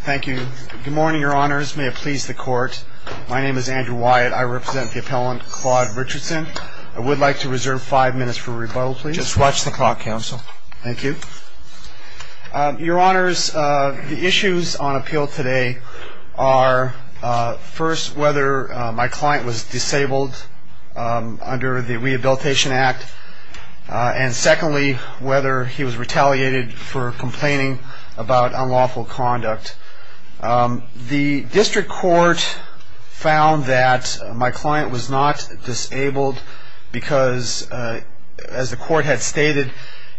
Thank you. Good morning, your honors. May it please the court. My name is Andrew Wyatt. I represent the appellant Claude Richardson. I would like to reserve five minutes for rebuttal, please. Just watch the clock, counsel. Thank you. Your honors, the issues on appeal today are, first, whether my client was disabled under the Rehabilitation Act, and secondly, whether he was retaliated for complaining about unlawful conduct. The district court found that my client was not disabled because, as the court had stated,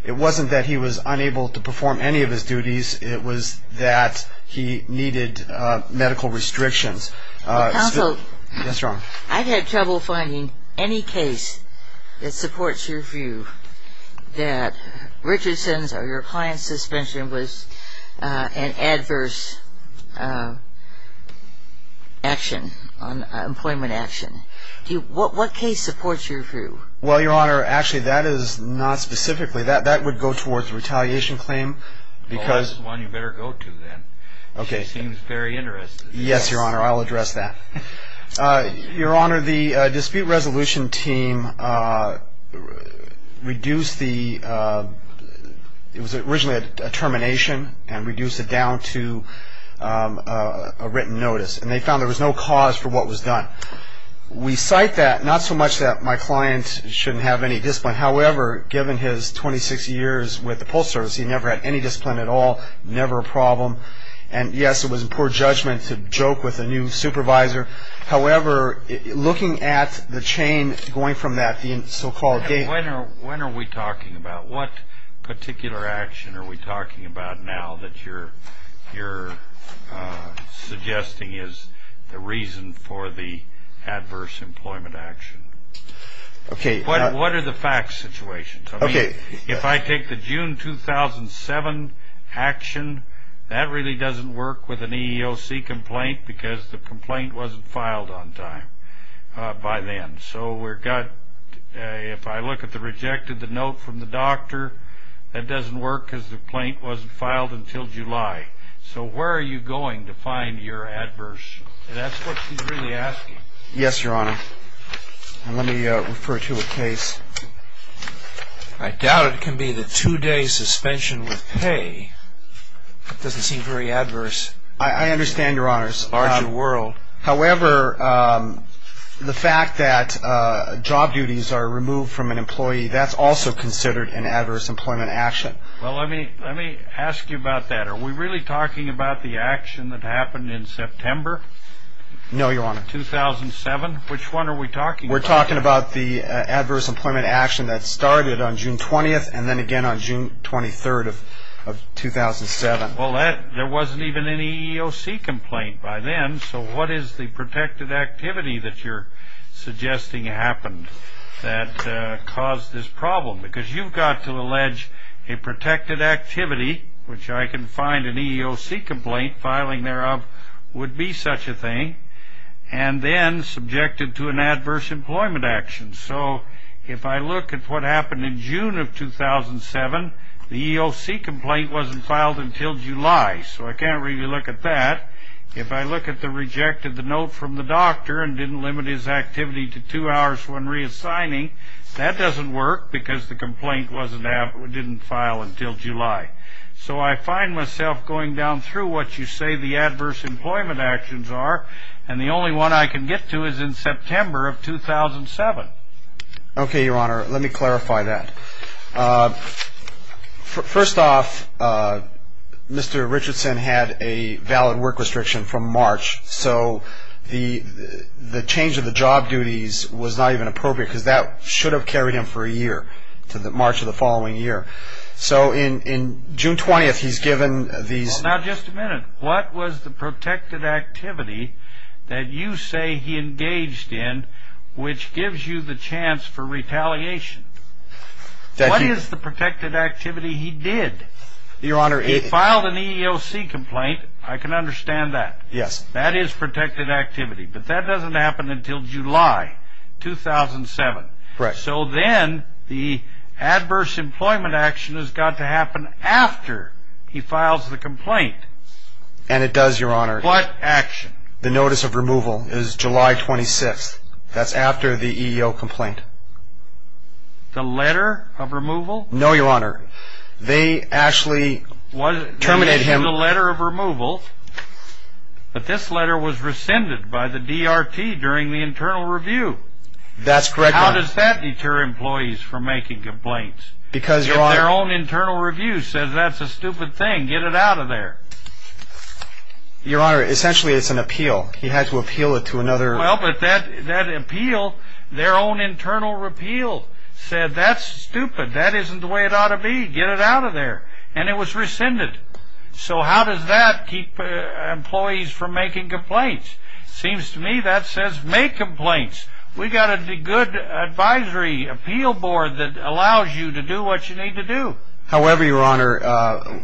it wasn't that he was unable to perform any of his duties. It was that he needed medical restrictions. Counsel, I've had trouble finding any case that supports your view that Richardson's or your client's suspension was an adverse action, employment action. What case supports your view? Well, your honor, actually, that is not specifically. That would go towards a retaliation claim. Well, this is one you better go to, then. She seems very interested. Yes, your honor, I'll address that. Your honor, the dispute resolution team reduced the – it was originally a termination and reduced it down to a written notice, and they found there was no cause for what was done. We cite that, not so much that my client shouldn't have any discipline. However, given his 26 years with the Postal Service, he never had any discipline at all, never a problem. And, yes, it was poor judgment to joke with a new supervisor. However, looking at the chain going from that, the so-called – When are we talking about? What particular action are we talking about now that you're suggesting is the reason for the adverse employment action? Okay. What are the fact situations? Okay. If I take the June 2007 action, that really doesn't work with an EEOC complaint because the complaint wasn't filed on time by then. So we've got – if I look at the rejected note from the doctor, that doesn't work because the complaint wasn't filed until July. So where are you going to find your adverse – that's what she's really asking. Yes, Your Honor. And let me refer to a case. I doubt it can be the two-day suspension with pay. That doesn't seem very adverse. I understand, Your Honors. It's a larger world. However, the fact that job duties are removed from an employee, that's also considered an adverse employment action. Well, let me ask you about that. Are we really talking about the action that happened in September? No, Your Honor. 2007? Which one are we talking about? We're talking about the adverse employment action that started on June 20th and then again on June 23rd of 2007. Well, there wasn't even an EEOC complaint by then, so what is the protected activity that you're suggesting happened that caused this problem? Because you've got to allege a protected activity, which I can find an EEOC complaint filing thereof would be such a thing, and then subjected to an adverse employment action. So if I look at what happened in June of 2007, the EEOC complaint wasn't filed until July, so I can't really look at that. If I look at the rejected note from the doctor and didn't limit his activity to two hours when reassigning, that doesn't work because the complaint didn't file until July. So I find myself going down through what you say the adverse employment actions are, and the only one I can get to is in September of 2007. Okay, Your Honor. Let me clarify that. First off, Mr. Richardson had a valid work restriction from March, so the change of the job duties was not even appropriate because that should have carried him for a year, to the March of the following year. So in June 20th, he's given these... Now, just a minute. What was the protected activity that you say he engaged in, which gives you the chance for retaliation? What is the protected activity he did? Your Honor, it... He filed an EEOC complaint. I can understand that. Yes. That is protected activity, but that doesn't happen until July 2007. Correct. So then the adverse employment action has got to happen after he files the complaint. And it does, Your Honor. What action? The notice of removal is July 26th. That's after the EEOC complaint. The letter of removal? No, Your Honor. They actually terminated him... It was the letter of removal, but this letter was rescinded by the DRT during the internal review. That's correct, Your Honor. How does that deter employees from making complaints? Because, Your Honor... If their own internal review says that's a stupid thing, get it out of there. Your Honor, essentially it's an appeal. He had to appeal it to another... Well, but that appeal, their own internal repeal said that's stupid. That isn't the way it ought to be. Get it out of there. And it was rescinded. So how does that keep employees from making complaints? Seems to me that says make complaints. We've got a good advisory appeal board that allows you to do what you need to do. However, Your Honor,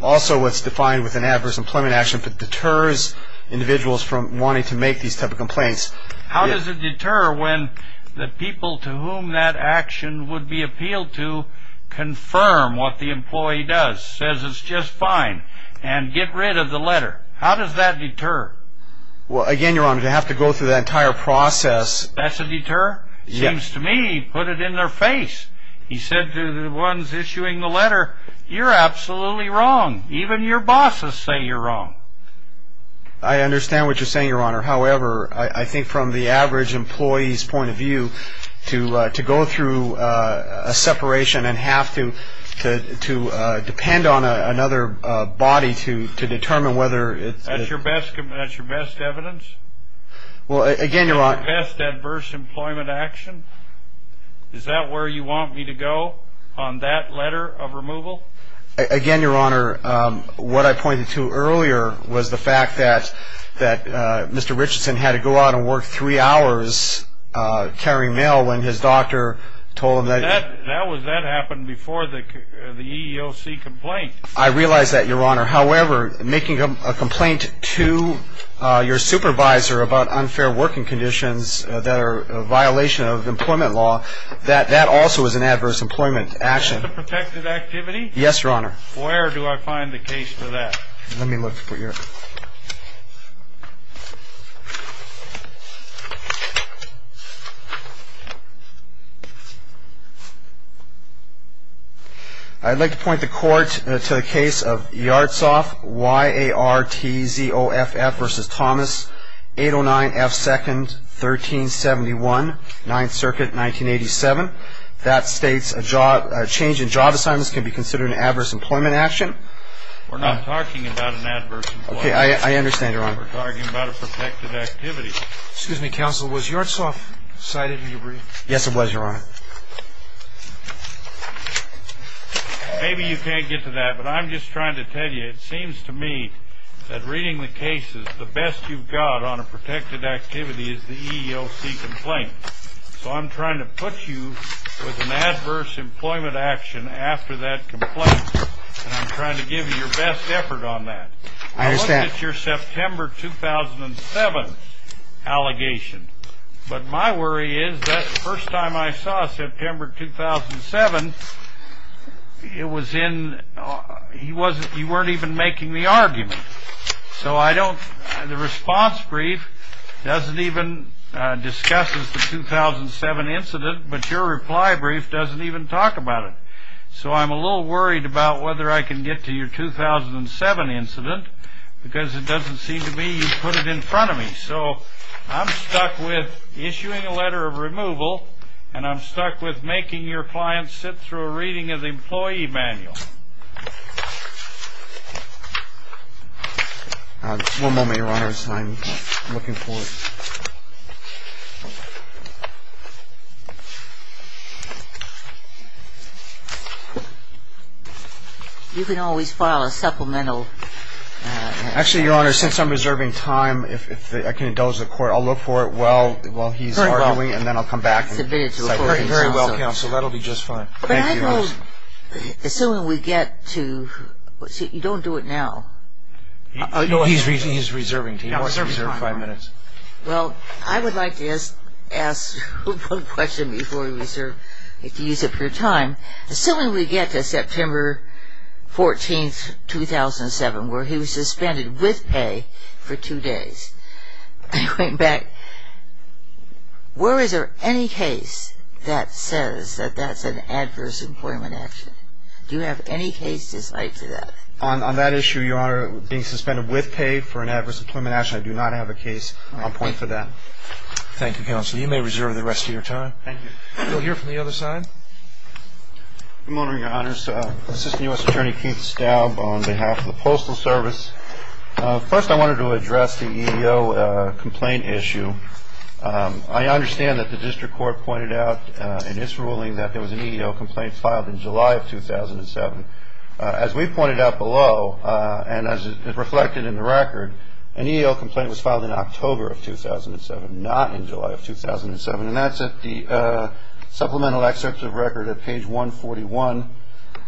also what's defined with an adverse employment action, it deters individuals from wanting to make these type of complaints. How does it deter when the people to whom that action would be appealed to confirm what the employee does, says it's just fine, and get rid of the letter? How does that deter? Well, again, Your Honor, to have to go through that entire process... That's a deter? Seems to me he put it in their face. He said to the ones issuing the letter, you're absolutely wrong. Even your bosses say you're wrong. I understand what you're saying, Your Honor. However, I think from the average employee's point of view, to go through a separation and have to depend on another body to determine whether... That's your best evidence? Well, again, Your Honor... Best adverse employment action? Is that where you want me to go on that letter of removal? Again, Your Honor, what I pointed to earlier was the fact that Mr. Richardson had to go out and work three hours carrying mail when his doctor told him that... That happened before the EEOC complaint. I realize that, Your Honor. However, making a complaint to your supervisor about unfair working conditions that are a violation of employment law, that also is an adverse employment action. That's a protected activity? Yes, Your Honor. Where do I find the case for that? Let me look for you. I'd like to point the Court to the case of Yartsov, Y-A-R-T-Z-O-F, F v. Thomas, 809 F. 2nd, 1371, 9th Circuit, 1987. That states a change in job assignments can be considered an adverse employment action. We're not talking about an adverse employment action. Okay, I understand, Your Honor. We're talking about a protected activity. Excuse me, Counsel, was Yartsov cited in your brief? Yes, it was, Your Honor. Maybe you can't get to that, but I'm just trying to tell you, it seems to me that reading the cases, the best you've got on a protected activity is the EEOC complaint. So I'm trying to put you with an adverse employment action after that complaint. And I'm trying to give you your best effort on that. I understand. I looked at your September 2007 allegation. But my worry is that the first time I saw September 2007, it was in, you weren't even making the argument. So I don't, the response brief doesn't even discuss the 2007 incident, but your reply brief doesn't even talk about it. So I'm a little worried about whether I can get to your 2007 incident because it doesn't seem to me you put it in front of me. So I'm stuck with issuing a letter of removal, and I'm stuck with making your client sit through a reading of the employee manual. One moment, Your Honor. I'm looking for it. You can always file a supplemental. Actually, Your Honor, since I'm reserving time, I can indulge the Court. I'll look for it while he's arguing, and then I'll come back. Very well. Submit it to a court of counsel. Very well, counsel. That'll be just fine. Thank you. But I know, assuming we get to, you don't do it now. No, he's reserving time. He wants to reserve five minutes. Well, I would like to ask one question before we reserve, if you use up your time. Assuming we get to September 14, 2007, where he was suspended with pay for two days, going back, where is there any case that says that that's an adverse employment action? Do you have any cases like that? On that issue, Your Honor, being suspended with pay for an adverse employment action, I do not have a case on point for that. Thank you, counsel. You may reserve the rest of your time. Thank you. We'll hear from the other side. Good morning, Your Honors. Assistant U.S. Attorney Keith Staub on behalf of the Postal Service. First, I wanted to address the EEO complaint issue. I understand that the district court pointed out in its ruling that there was an EEO complaint filed in July of 2007. As we pointed out below, and as is reflected in the record, an EEO complaint was filed in October of 2007, not in July of 2007. And that's at the supplemental excerpts of record at page 141.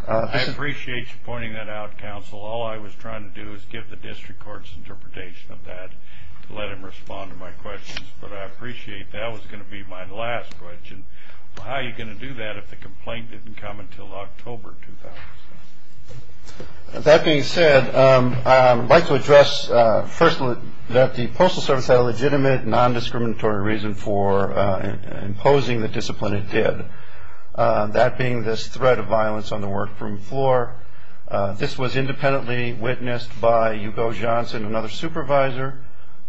I appreciate you pointing that out, counsel. All I was trying to do is give the district court's interpretation of that to let him respond to my questions. But I appreciate that was going to be my last question. How are you going to do that if the complaint didn't come until October 2007? That being said, I'd like to address, first, that the Postal Service had a legitimate, nondiscriminatory reason for imposing the discipline it did, that being this threat of violence on the workroom floor. This was independently witnessed by Hugo Johnson, another supervisor,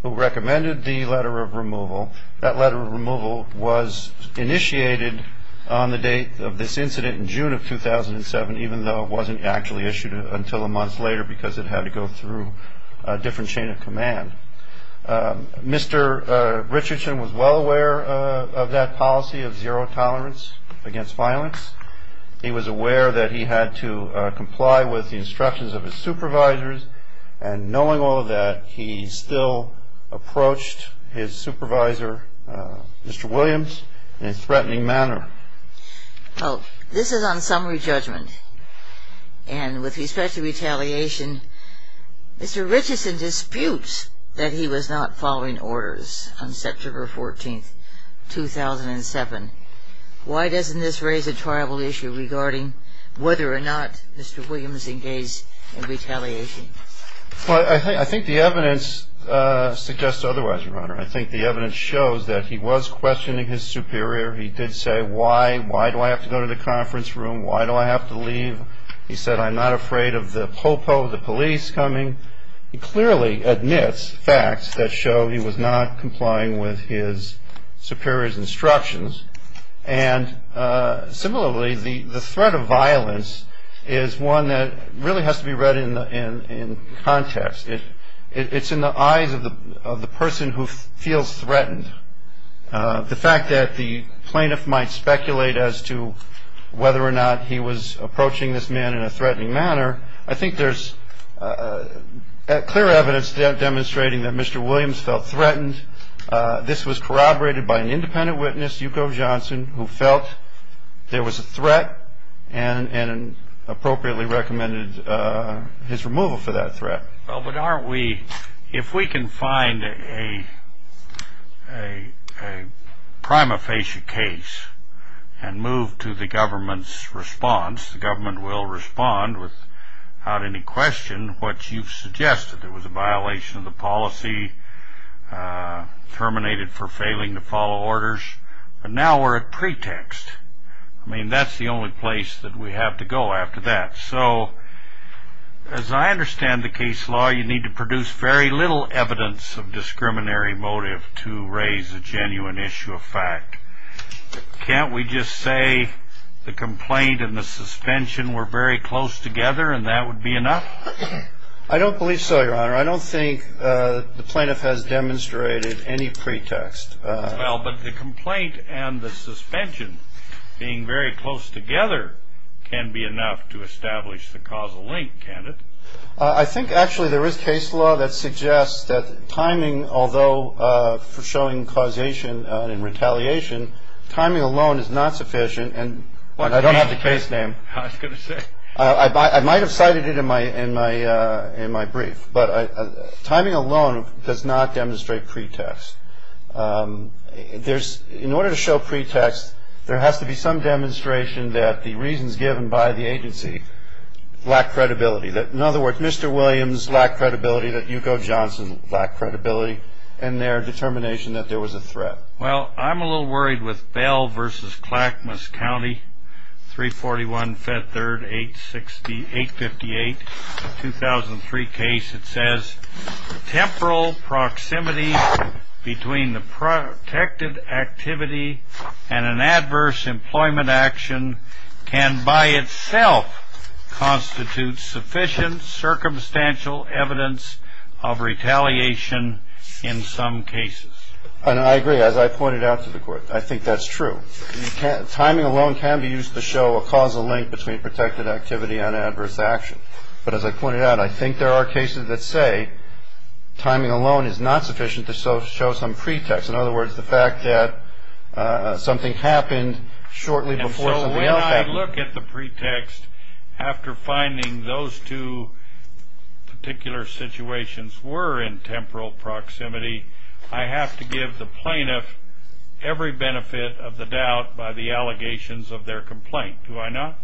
who recommended the letter of removal. That letter of removal was initiated on the date of this incident in June of 2007, even though it wasn't actually issued until a month later because it had to go through a different chain of command. Mr. Richardson was well aware of that policy of zero tolerance against violence. He was aware that he had to comply with the instructions of his supervisors. And knowing all of that, he still approached his supervisor, Mr. Williams, in a threatening manner. Well, this is on summary judgment. And with respect to retaliation, Mr. Richardson disputes that he was not following orders on September 14, 2007. Why doesn't this raise a tribal issue regarding whether or not Mr. Williams engaged in retaliation? Well, I think the evidence suggests otherwise, Your Honor. I think the evidence shows that he was questioning his superior. He did say, why do I have to go to the conference room? Why do I have to leave? He said, I'm not afraid of the pol po, the police coming. He clearly admits facts that show he was not complying with his superior's instructions. And similarly, the threat of violence is one that really has to be read in context. It's in the eyes of the person who feels threatened. The fact that the plaintiff might speculate as to whether or not he was approaching this man in a threatening manner, I think there's clear evidence demonstrating that Mr. Williams felt threatened. This was corroborated by an independent witness, Yuko Johnson, who felt there was a threat and appropriately recommended his removal for that threat. Well, but aren't we, if we can find a prima facie case and move to the government's response, the government will respond without any question what you've suggested. It was a violation of the policy, terminated for failing to follow orders. But now we're at pretext. I mean, that's the only place that we have to go after that. So as I understand the case law, you need to produce very little evidence of discriminatory motive to raise a genuine issue of fact. Can't we just say the complaint and the suspension were very close together and that would be enough? I don't believe so, Your Honor. I don't think the plaintiff has demonstrated any pretext. Well, but the complaint and the suspension being very close together can be enough to establish the causal link, can it? I think actually there is case law that suggests that timing, although for showing causation and retaliation, timing alone is not sufficient and I don't have the case name. I was going to say. I might have cited it in my brief, but timing alone does not demonstrate pretext. In order to show pretext, there has to be some demonstration that the reasons given by the agency lack credibility. In other words, Mr. Williams lacked credibility, that Yuko Johnson lacked credibility in their determination that there was a threat. Well, I'm a little worried with Bell v. Clackamas County, 341-Fed 3rd-858-2003 case. It says temporal proximity between the protected activity and an adverse employment action can by itself constitute sufficient circumstantial evidence of retaliation in some cases. And I agree. As I pointed out to the court, I think that's true. Timing alone can be used to show a causal link between protected activity and adverse action. But as I pointed out, I think there are cases that say timing alone is not sufficient to show some pretext. In other words, the fact that something happened shortly before something else happened. If I look at the pretext, after finding those two particular situations were in temporal proximity, I have to give the plaintiff every benefit of the doubt by the allegations of their complaint, do I not?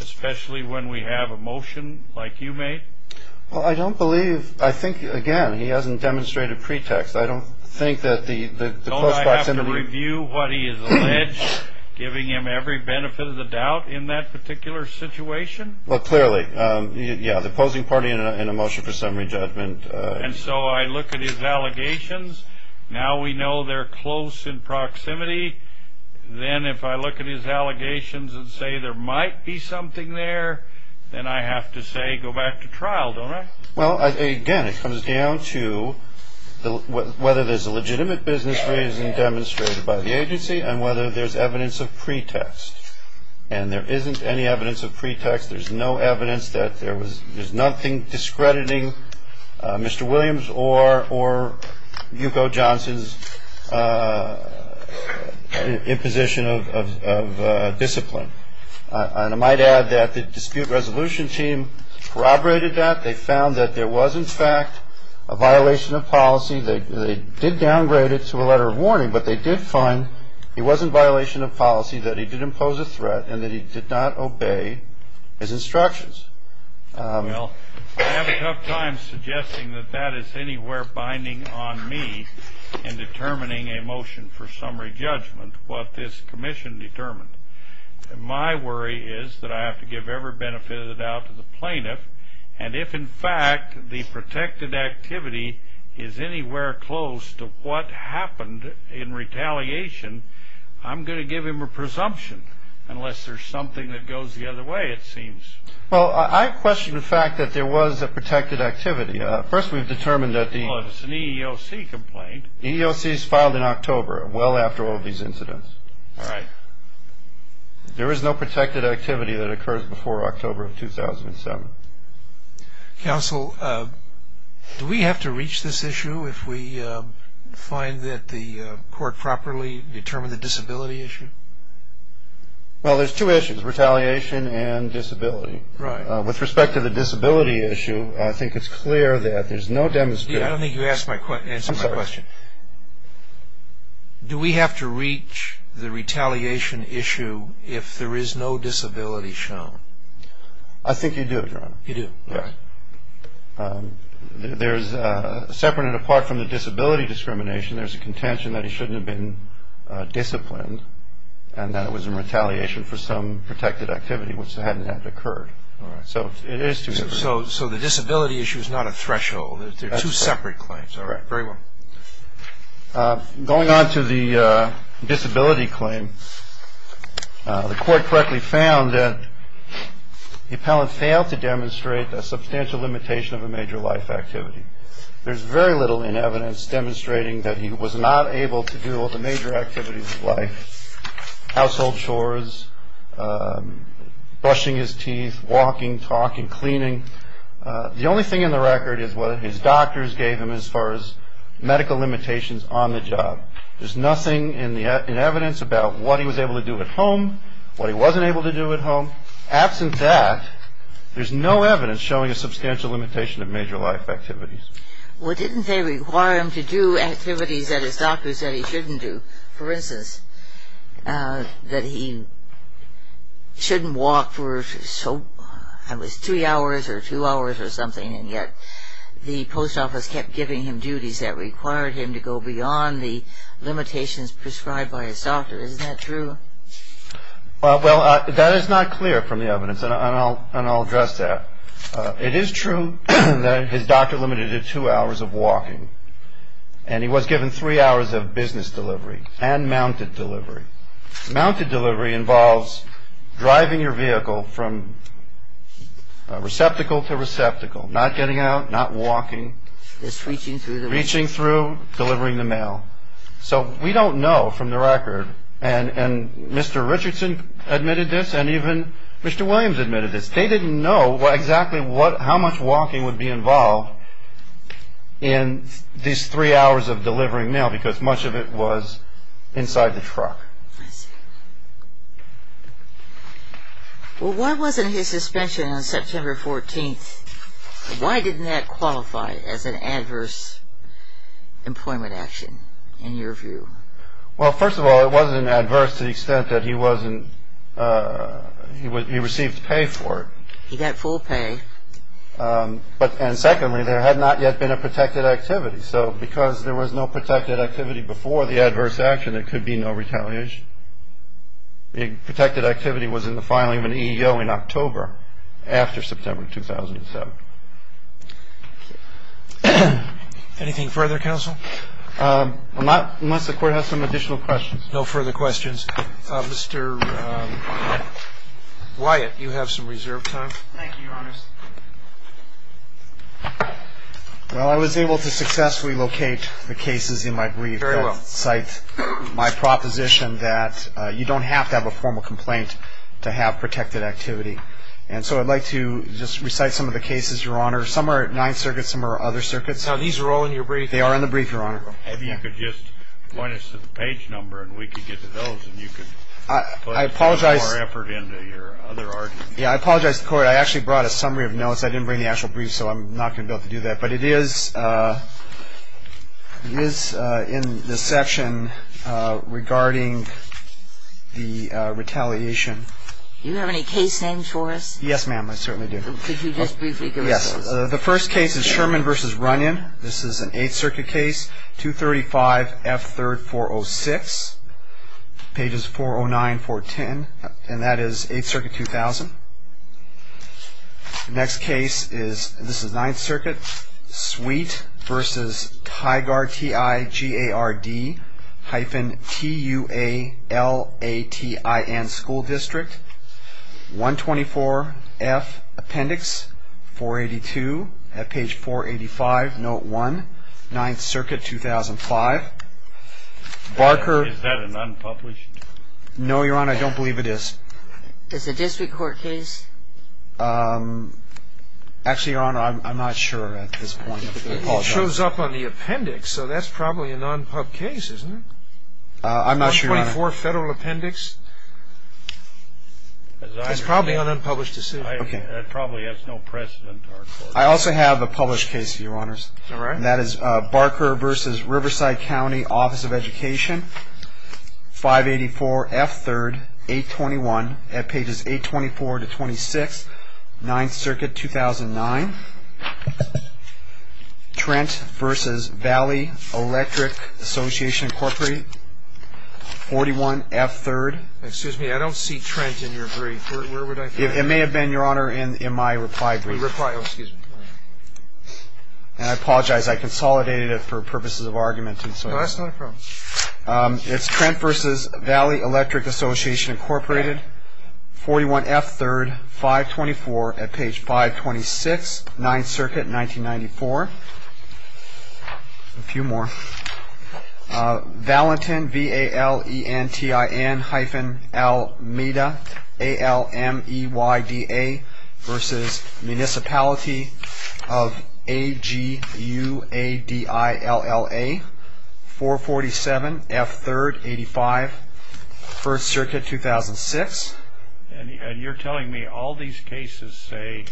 Especially when we have a motion like you made? Well, I don't believe, I think, again, he hasn't demonstrated pretext. Don't I have to review what he has alleged, giving him every benefit of the doubt in that particular situation? Well, clearly. Yeah, the opposing party in a motion for summary judgment. And so I look at his allegations. Now we know they're close in proximity. Then if I look at his allegations and say there might be something there, then I have to say go back to trial, don't I? Well, again, it comes down to whether there's a legitimate business reason demonstrated by the agency and whether there's evidence of pretext. And there isn't any evidence of pretext. There's no evidence that there was nothing discrediting Mr. Williams or Yuko Johnson's imposition of discipline. And I might add that the dispute resolution team corroborated that. They found that there was, in fact, a violation of policy. They did downgrade it to a letter of warning, but they did find it wasn't a violation of policy, that he did impose a threat and that he did not obey his instructions. Well, I have a tough time suggesting that that is anywhere binding on me in determining a motion for summary judgment, what this commission determined. My worry is that I have to give every benefit of the doubt to the plaintiff. And if, in fact, the protected activity is anywhere close to what happened in retaliation, I'm going to give him a presumption unless there's something that goes the other way, it seems. Well, I question the fact that there was a protected activity. First, we've determined that the EEOC complaint EEOC is filed in October, well after all of these incidents. All right. There is no protected activity that occurs before October of 2007. Counsel, do we have to reach this issue if we find that the court properly determined the disability issue? Well, there's two issues, retaliation and disability. Right. With respect to the disability issue, I think it's clear that there's no demonstration. I don't think you answered my question. Do we have to reach the retaliation issue if there is no disability shown? I think you do, Your Honor. You do. Right. There's, separate and apart from the disability discrimination, there's a contention that it shouldn't have been disciplined and that it was in retaliation for some protected activity which hadn't had occurred. All right. So it is two different things. So the disability issue is not a threshold. That's correct. They're two separate claims. All right. Very well. Going on to the disability claim, the court correctly found that the appellant failed to demonstrate a substantial limitation of a major life activity. There's very little in evidence demonstrating that he was not able to do all the major activities of life, The only thing in the record is what his doctors gave him as far as medical limitations on the job. There's nothing in evidence about what he was able to do at home, what he wasn't able to do at home. Absent that, there's no evidence showing a substantial limitation of major life activities. Well, didn't they require him to do activities that his doctor said he shouldn't do? For instance, that he shouldn't walk for three hours or two hours or something, and yet the post office kept giving him duties that required him to go beyond the limitations prescribed by his doctor. Isn't that true? Well, that is not clear from the evidence, and I'll address that. It is true that his doctor limited it to two hours of walking, and he was given three hours of business delivery and mounted delivery. Mounted delivery involves driving your vehicle from receptacle to receptacle, not getting out, not walking, reaching through, delivering the mail. So we don't know from the record, and Mr. Richardson admitted this, and even Mr. Williams admitted this, they didn't know exactly how much walking would be involved in these three hours of delivering mail, because much of it was inside the truck. I see. Well, why wasn't his suspension on September 14th, why didn't that qualify as an adverse employment action in your view? Well, first of all, it wasn't adverse to the extent that he received pay for it. He got full pay. And secondly, there had not yet been a protected activity, so because there was no protected activity before the adverse action, there could be no retaliation. The protected activity was in the filing of an EEO in October after September 2007. Anything further, counsel? Unless the Court has some additional questions. No further questions. Mr. Wyatt, you have some reserved time. Thank you, Your Honors. Well, I was able to successfully locate the cases in my brief that cite my proposition that you don't have to have a formal complaint to have protected activity. And so I'd like to just recite some of the cases, Your Honor. Some are at Ninth Circuit, some are at other circuits. Now, these are all in your brief? They are in the brief, Your Honor. Maybe you could just point us to the page number and we could get to those and you could put more effort into your other arguments. Yeah, I apologize, the Court. I actually brought a summary of notes. I didn't bring the actual brief, so I'm not going to be able to do that. But it is in the section regarding the retaliation. Do you have any case names for us? Yes, ma'am, I certainly do. Could you just briefly give us those? Yes. The first case is Sherman v. Runyon. This is an Eighth Circuit case, 235F3406, pages 409, 410. And that is Eighth Circuit 2000. The next case is, this is Ninth Circuit, Sweet v. Tigard, hyphen, T-U-A-L-A-T-I-N, School District, 124F Appendix 482. At page 485, note 1, Ninth Circuit 2005. Barker. Is that an unpublished? No, Your Honor, I don't believe it is. Is it a district court case? Actually, Your Honor, I'm not sure at this point. It shows up on the appendix, so that's probably a non-pub case, isn't it? I'm not sure, Your Honor. 424 Federal Appendix. It's probably an unpublished decision. Okay. That probably has no precedent to our court. I also have a published case, Your Honors. All right. And that is Barker v. Riverside County Office of Education, 584F3, 821. At pages 824-26, Ninth Circuit 2009. Trent v. Valley Electric Association Incorporated, 41F3. Excuse me, I don't see Trent in your brief. Where would I find him? It may have been, Your Honor, in my reply brief. Oh, excuse me. And I apologize. I consolidated it for purposes of argument. No, that's not a problem. It's Trent v. Valley Electric Association Incorporated, 41F3, 524. At page 526, Ninth Circuit 1994. A few more. Valentin, V-A-L-E-N-T-I-N-L-M-E-D-A, versus Municipality of A-G-U-A-D-I-L-L-A, 447F3, 85, First Circuit 2006. And you're telling me all these cases say,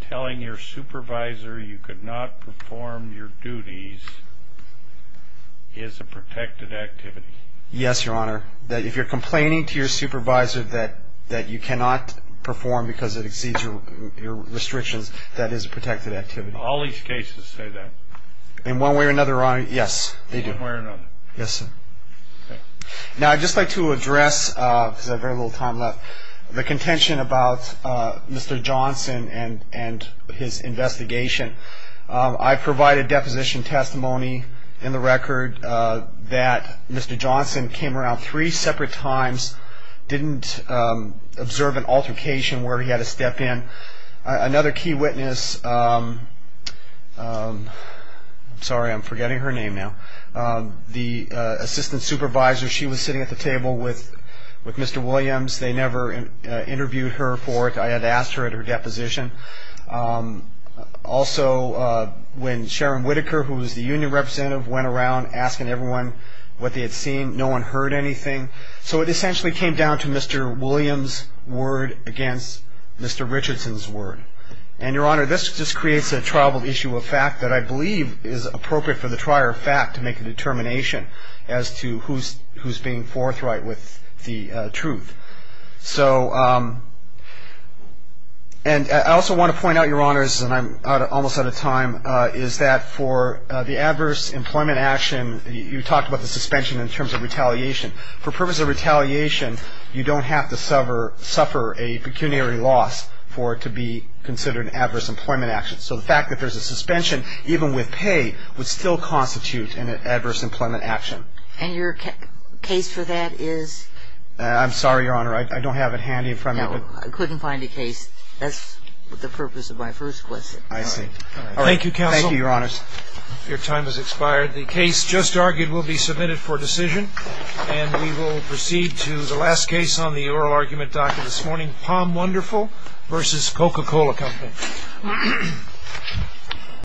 telling your supervisor you could not perform your duties is a protected activity. Yes, Your Honor, that if you're complaining to your supervisor that you cannot perform because it exceeds your restrictions, that is a protected activity. All these cases say that. In one way or another, Your Honor, yes, they do. In one way or another. Yes, sir. Now, I'd just like to address, because I have very little time left, the contention about Mr. Johnson and his investigation. I provided deposition testimony in the record that Mr. Johnson came around three separate times, didn't observe an altercation where he had to step in. Another key witness, sorry, I'm forgetting her name now, the assistant supervisor, she was sitting at the table with Mr. Williams. They never interviewed her for it. I had asked her at her deposition. Also, when Sharon Whitaker, who was the union representative, went around asking everyone what they had seen, no one heard anything. So it essentially came down to Mr. Williams' word against Mr. Richardson's word. And, Your Honor, this just creates a troubled issue of fact that I believe is appropriate for the trier of fact to make a determination as to who's being forthright with the truth. So, and I also want to point out, Your Honors, and I'm almost out of time, is that for the adverse employment action, you talked about the suspension in terms of retaliation. For purpose of retaliation, you don't have to suffer a pecuniary loss for it to be considered an adverse employment action. So the fact that there's a suspension, even with pay, would still constitute an adverse employment action. And your case for that is? I'm sorry, Your Honor, I don't have it handy in front of me. I couldn't find a case. That's the purpose of my first question. I see. Thank you, counsel. Thank you, Your Honors. Your time has expired. The case just argued will be submitted for decision, and we will proceed to the last case on the oral argument docket this morning, Palm Wonderful v. Coca-Cola Company.